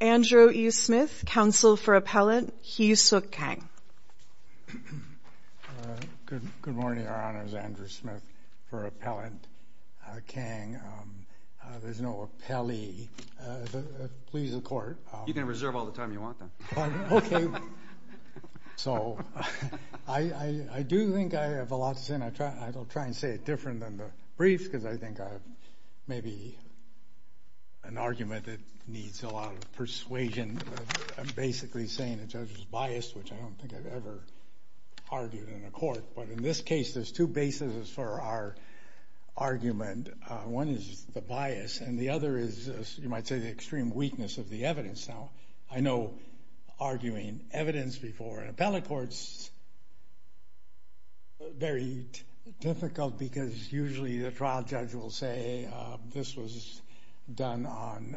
Andrew E. Smith, Counsel for Appellant, Hee Sook Kang. Good morning, Your Honors. Andrew Smith for Appellant Kang. There's no appellee. Please, the Court. You can reserve all the time you want, then. Okay. So, I do think I have a lot to say, and I'll try and say it different than the brief because I think I have maybe an argument that needs a lot of persuasion. I'm basically saying the judge is biased, which I don't think I've ever argued in a court. But in this case, there's two bases for our argument. One is the bias, and the other is, you might say, the extreme weakness of the evidence. Now, I know arguing evidence before an appellate court is very difficult because usually the trial judge will say, this was done on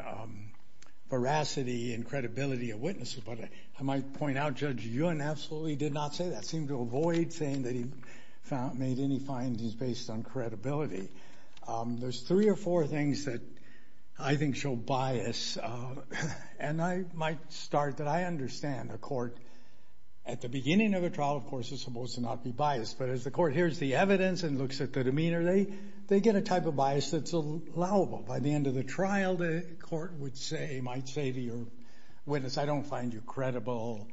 veracity and credibility of witnesses. But I might point out Judge Yuen absolutely did not say that, seemed to avoid saying that he made any findings based on credibility. There's three or four things that I think show bias, and I might start that I understand a court. At the beginning of a trial, of course, it's supposed to not be biased. But as the court hears the evidence and looks at the demeanor, they get a type of bias that's allowable. By the end of the trial, the court might say to your witness, I don't find you credible,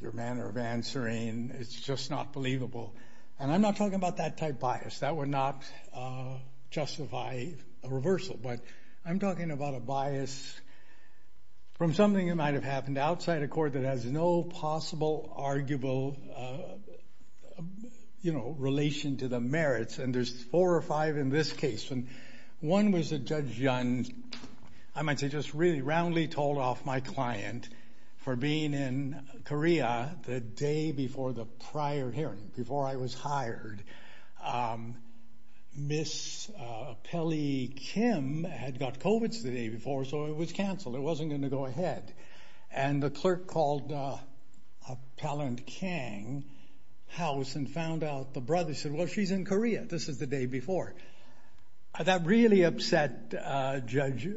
your manner of answering is just not believable. And I'm not talking about that type bias. That would not justify a reversal. But I'm talking about a bias from something that might have happened outside a court that has no possible arguable, you know, relation to the merits. And there's four or five in this case. One was that Judge Yuen, I might say, just really roundly told off my client for being in Korea the day before the prior hearing, before I was hired. Ms. Pelly Kim had got COVID the day before, so it was canceled. It wasn't going to go ahead. And the clerk called Appellant Kang's house and found out the brother said, Well, she's in Korea. This is the day before. That really upset Judge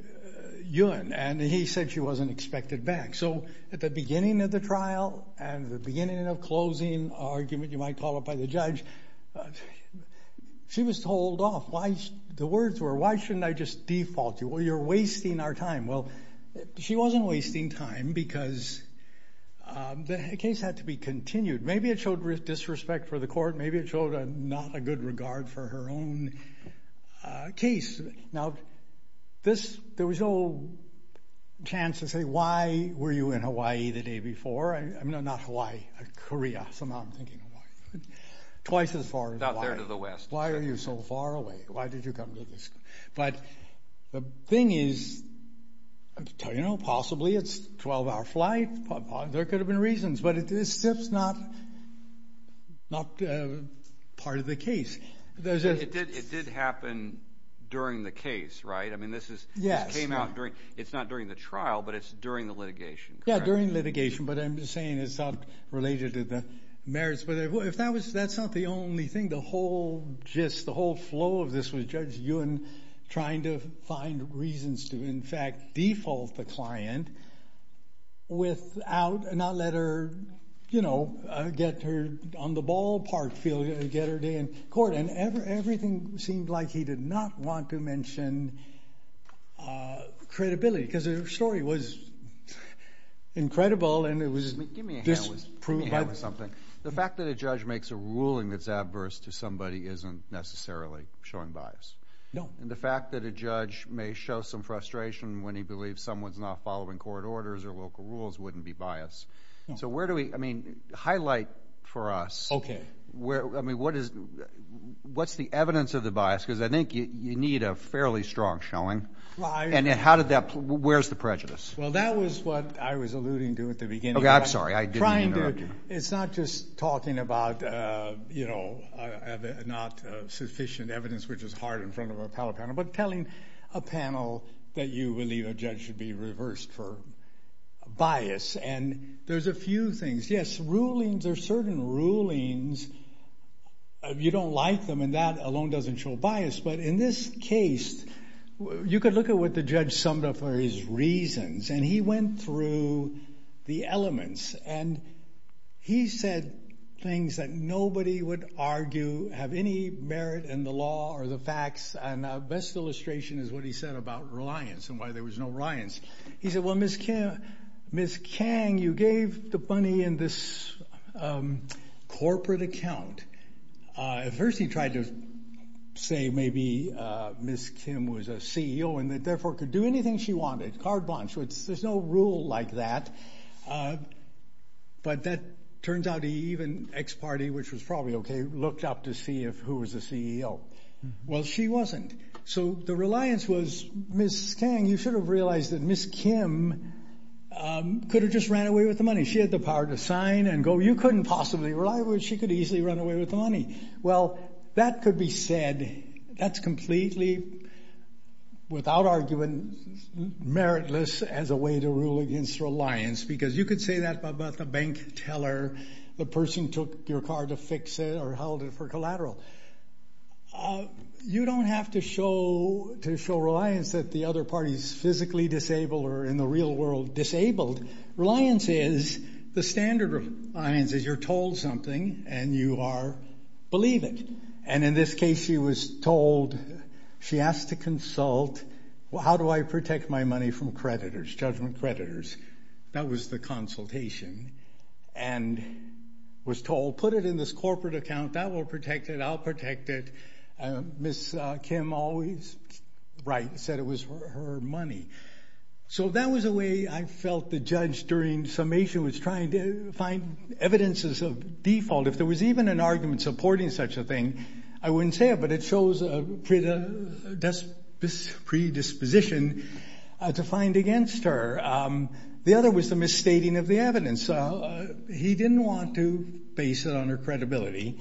Yuen, and he said she wasn't expected back. So at the beginning of the trial and the beginning of closing argument, you might call it by the judge, she was told off. The words were, Why shouldn't I just default you? Well, you're wasting our time. Well, she wasn't wasting time because the case had to be continued. Maybe it showed disrespect for the court. Maybe it showed not a good regard for her own case. Now, there was no chance to say, Why were you in Hawaii the day before? No, not Hawaii. Korea. Somehow I'm thinking Hawaii. Twice as far as Hawaii. Not there to the west. Why are you so far away? Why did you come to this? But the thing is, you know, possibly it's a 12-hour flight. There could have been reasons. But it's just not part of the case. It did happen during the case, right? I mean, this came out during. It's not during the trial, but it's during the litigation. Yeah, during litigation. But I'm just saying it's not related to the merits. But that's not the only thing. The whole flow of this was Judge Yuen trying to find reasons to, in fact, default the client without, and not let her, you know, get her on the ballpark, get her day in court. And everything seemed like he did not want to mention credibility because her story was incredible and it was disproved. Give me a hand with something. The fact that a judge makes a ruling that's adverse to somebody isn't necessarily showing bias. No. And the fact that a judge may show some frustration when he believes someone's not following court orders or local rules wouldn't be bias. So where do we, I mean, highlight for us. Okay. I mean, what's the evidence of the bias? Because I think you need a fairly strong showing. And where's the prejudice? Well, that was what I was alluding to at the beginning. Okay, I'm sorry. I didn't mean to hurt you. It's not just talking about, you know, not sufficient evidence, which is hard in front of a panel, but telling a panel that you believe a judge should be reversed for bias. And there's a few things. Yes, rulings, there are certain rulings, you don't like them, and that alone doesn't show bias. But in this case, you could look at what the judge summed up for his reasons. And he went through the elements, and he said things that nobody would argue have any merit in the law or the facts. And a best illustration is what he said about reliance and why there was no reliance. He said, well, Ms. Kang, you gave the money in this corporate account. At first he tried to say maybe Ms. Kim was a CEO and therefore could do anything she wanted, card bonds, there's no rule like that. But that turns out he even, X party, which was probably okay, looked up to see who was the CEO. Well, she wasn't. So the reliance was Ms. Kang, you should have realized that Ms. Kim could have just ran away with the money. She had the power to sign and go. You couldn't possibly rely on her. She could easily run away with the money. Well, that could be said. That's completely, without arguing, meritless as a way to rule against reliance because you could say that about the bank teller, the person took your car to fix it or held it for collateral. You don't have to show reliance that the other party is physically disabled or in the real world disabled. Reliance is, the standard of reliance is you're told something and you believe it. And in this case, she was told, she asked to consult, how do I protect my money from creditors, judgment creditors? That was the consultation and was told, put it in this corporate account, that will protect it, I'll protect it. Ms. Kim always writes that it was her money. So that was the way I felt the judge during summation was trying to find evidences of default. If there was even an argument supporting such a thing, I wouldn't say it, but it shows a predisposition to find against her. The other was the misstating of the evidence. He didn't want to base it on her credibility.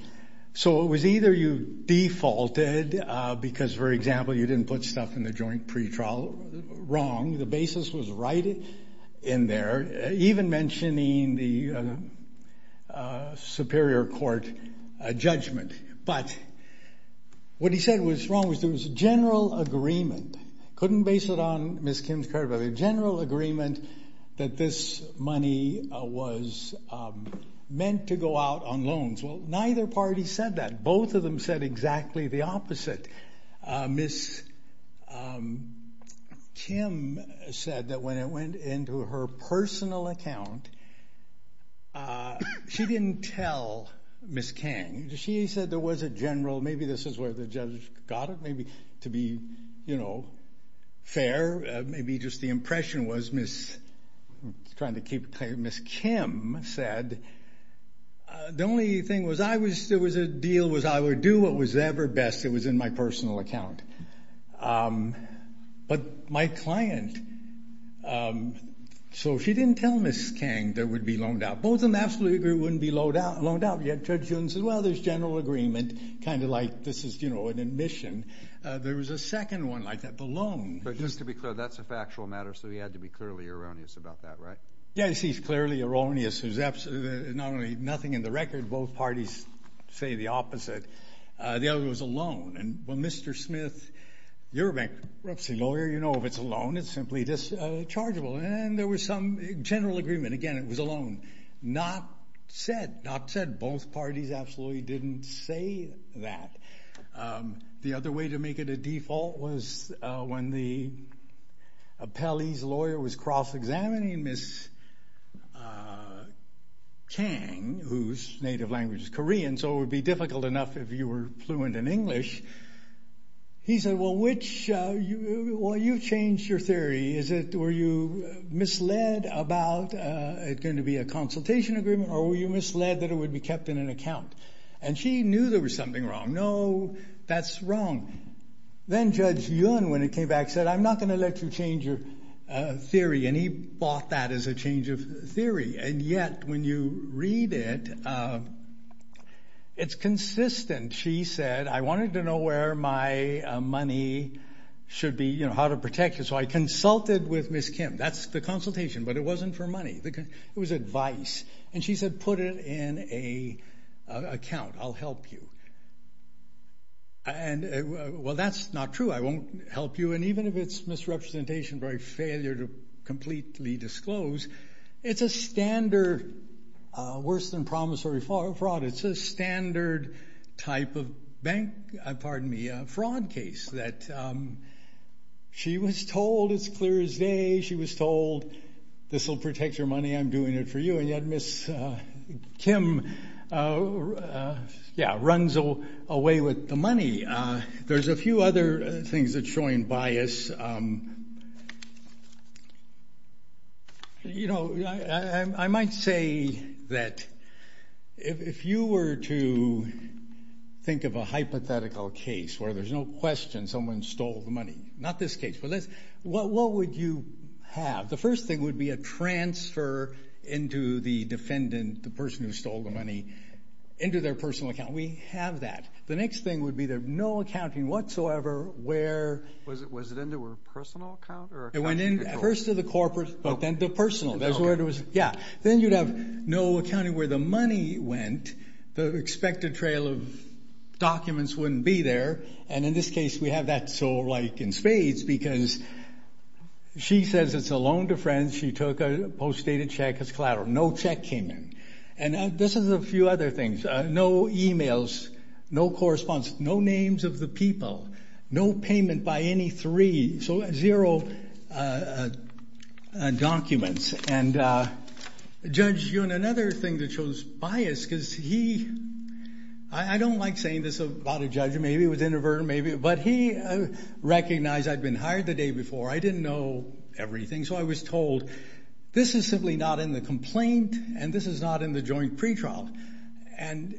So it was either you defaulted because, for example, you didn't put stuff in the joint pretrial wrong, the basis was right in there, even mentioning the superior court judgment. But what he said was wrong was there was a general agreement, couldn't base it on Ms. Kim's credibility, a general agreement that this money was meant to go out on loans. Well, neither party said that. Both of them said exactly the opposite. Ms. Kim said that when it went into her personal account, she didn't tell Ms. Kang. She said there was a general, maybe this is where the judge got it, maybe to be fair, maybe just the impression was Ms. Kim said, the only thing was there was a deal where I would do what was ever best, it was in my personal account. But my client, so she didn't tell Ms. Kang that it would be loaned out. Both of them absolutely agreed it wouldn't be loaned out, yet Judge Hewins said, well, there's general agreement, kind of like this is an admission. There was a second one like that, the loan. But just to be clear, that's a factual matter, so he had to be clearly erroneous about that, right? Yes, he's clearly erroneous. There's absolutely nothing in the record. Both parties say the opposite. The other was a loan. And, well, Mr. Smith, you're a bankruptcy lawyer. You know if it's a loan, it's simply dischargeable. And there was some general agreement. Again, it was a loan. Not said, not said. Both parties absolutely didn't say that. The other way to make it a default was when the appellee's lawyer was cross-examining Ms. Chang, whose native language is Korean, so it would be difficult enough if you were fluent in English. He said, well, you've changed your theory. Were you misled about it going to be a consultation agreement, or were you misled that it would be kept in an account? And she knew there was something wrong. No, that's wrong. Then Judge Hewins, when he came back, said, I'm not going to let you change your theory. And he bought that as a change of theory. And yet, when you read it, it's consistent. She said, I wanted to know where my money should be, you know, how to protect it. So I consulted with Ms. Kim. That's the consultation, but it wasn't for money. It was advice. And she said, put it in an account. I'll help you. And, well, that's not true. I won't help you. And even if it's misrepresentation by failure to completely disclose, it's a standard, worse than promissory fraud, it's a standard type of bank, pardon me, fraud case. She was told it's clear as day. She was told, this will protect your money. I'm doing it for you. There's a few other things that's showing bias. You know, I might say that if you were to think of a hypothetical case where there's no question someone stole the money, not this case, but what would you have? The first thing would be a transfer into the defendant, the person who stole the money, into their personal account. We have that. The next thing would be they have no accounting whatsoever where. Was it into a personal account? It went in first to the corporate, but then to personal. That's where it was. Yeah. Then you'd have no accounting where the money went. The expected trail of documents wouldn't be there. And in this case, we have that so like in spades because she says it's a loan to friends. She took a postdated check as collateral. No check came in. And this is a few other things. No emails. No correspondence. No names of the people. No payment by any three. So zero documents. And Judge Yun, another thing that shows bias because he. I don't like saying this about a judge. Maybe it was introverted, maybe. But he recognized I'd been hired the day before. I didn't know everything. So I was told this is simply not in the complaint and this is not in the joint pretrial. And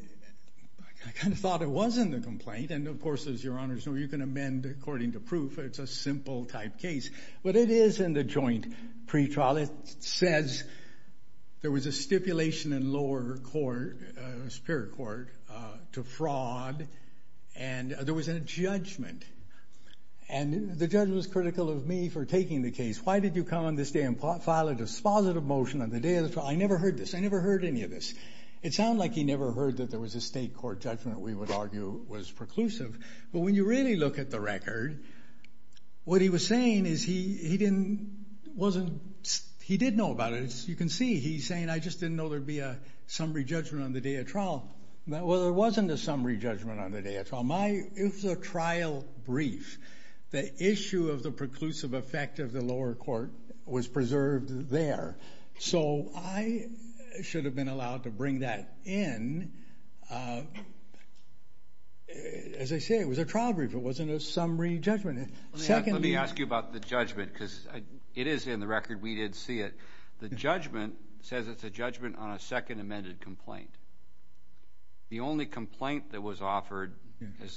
I kind of thought it was in the complaint. And, of course, as your honors know, you can amend according to proof. It's a simple type case. But it is in the joint pretrial. It says there was a stipulation in lower court, Superior Court, to fraud. And there was a judgment. And the judge was critical of me for taking the case. Why did you come on this day and file a dispositive motion on the day of the trial? I never heard this. I never heard any of this. It sounded like he never heard that there was a state court judgment we would argue was preclusive. But when you really look at the record, what he was saying is he didn't. He didn't know about it. As you can see, he's saying I just didn't know there would be a summary judgment on the day of trial. Well, there wasn't a summary judgment on the day of trial. It was a trial brief. The issue of the preclusive effect of the lower court was preserved there. So I should have been allowed to bring that in. As I say, it was a trial brief. It wasn't a summary judgment. Let me ask you about the judgment because it is in the record. We did see it. The judgment says it's a judgment on a second amended complaint. The only complaint that was offered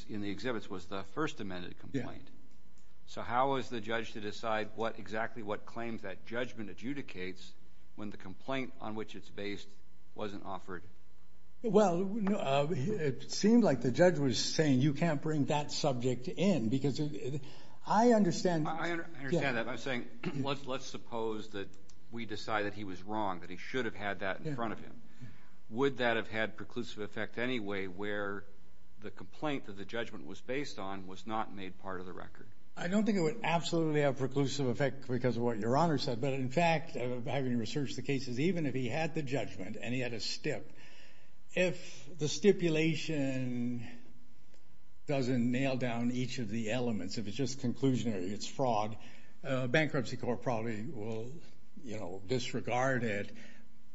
in the exhibits was the first amended complaint. So how is the judge to decide exactly what claims that judgment adjudicates when the complaint on which it's based wasn't offered? Well, it seemed like the judge was saying you can't bring that subject in because I understand. I understand that. I'm saying let's suppose that we decide that he was wrong, that he should have had that in front of him. Would that have had preclusive effect anyway where the complaint that the judgment was based on was not made part of the record? I don't think it would absolutely have preclusive effect because of what Your Honor said. But, in fact, having researched the cases, even if he had the judgment and he had a stip, if the stipulation doesn't nail down each of the elements, if it's just conclusionary, it's fraud, bankruptcy court probably will, you know, disregard it.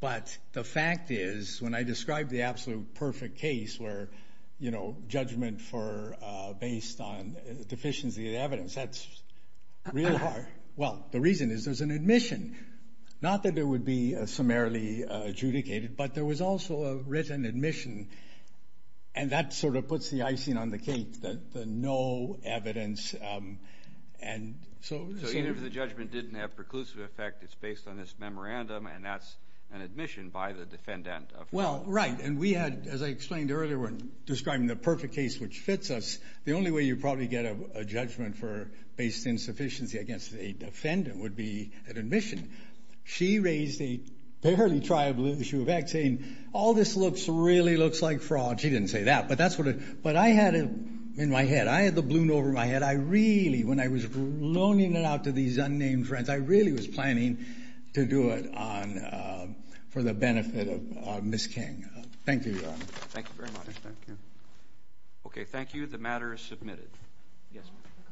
But the fact is when I describe the absolute perfect case where, you know, judgment based on deficiency of evidence, that's real hard. Well, the reason is there's an admission. Not that there would be summarily adjudicated, but there was also a written admission, and that sort of puts the icing on the cake, the no evidence. So even if the judgment didn't have preclusive effect, it's based on this memorandum, and that's an admission by the defendant of fraud. Well, right. And we had, as I explained earlier when describing the perfect case which fits us, the only way you'd probably get a judgment based on insufficiency against a defendant would be an admission. She raised a fairly triable issue of fact, saying all this looks really looks like fraud. She didn't say that. I had the balloon over my head. I really, when I was loaning it out to these unnamed friends, I really was planning to do it for the benefit of Ms. King. Thank you, Your Honor. Thank you very much. Thank you. Okay, thank you. The matter is submitted.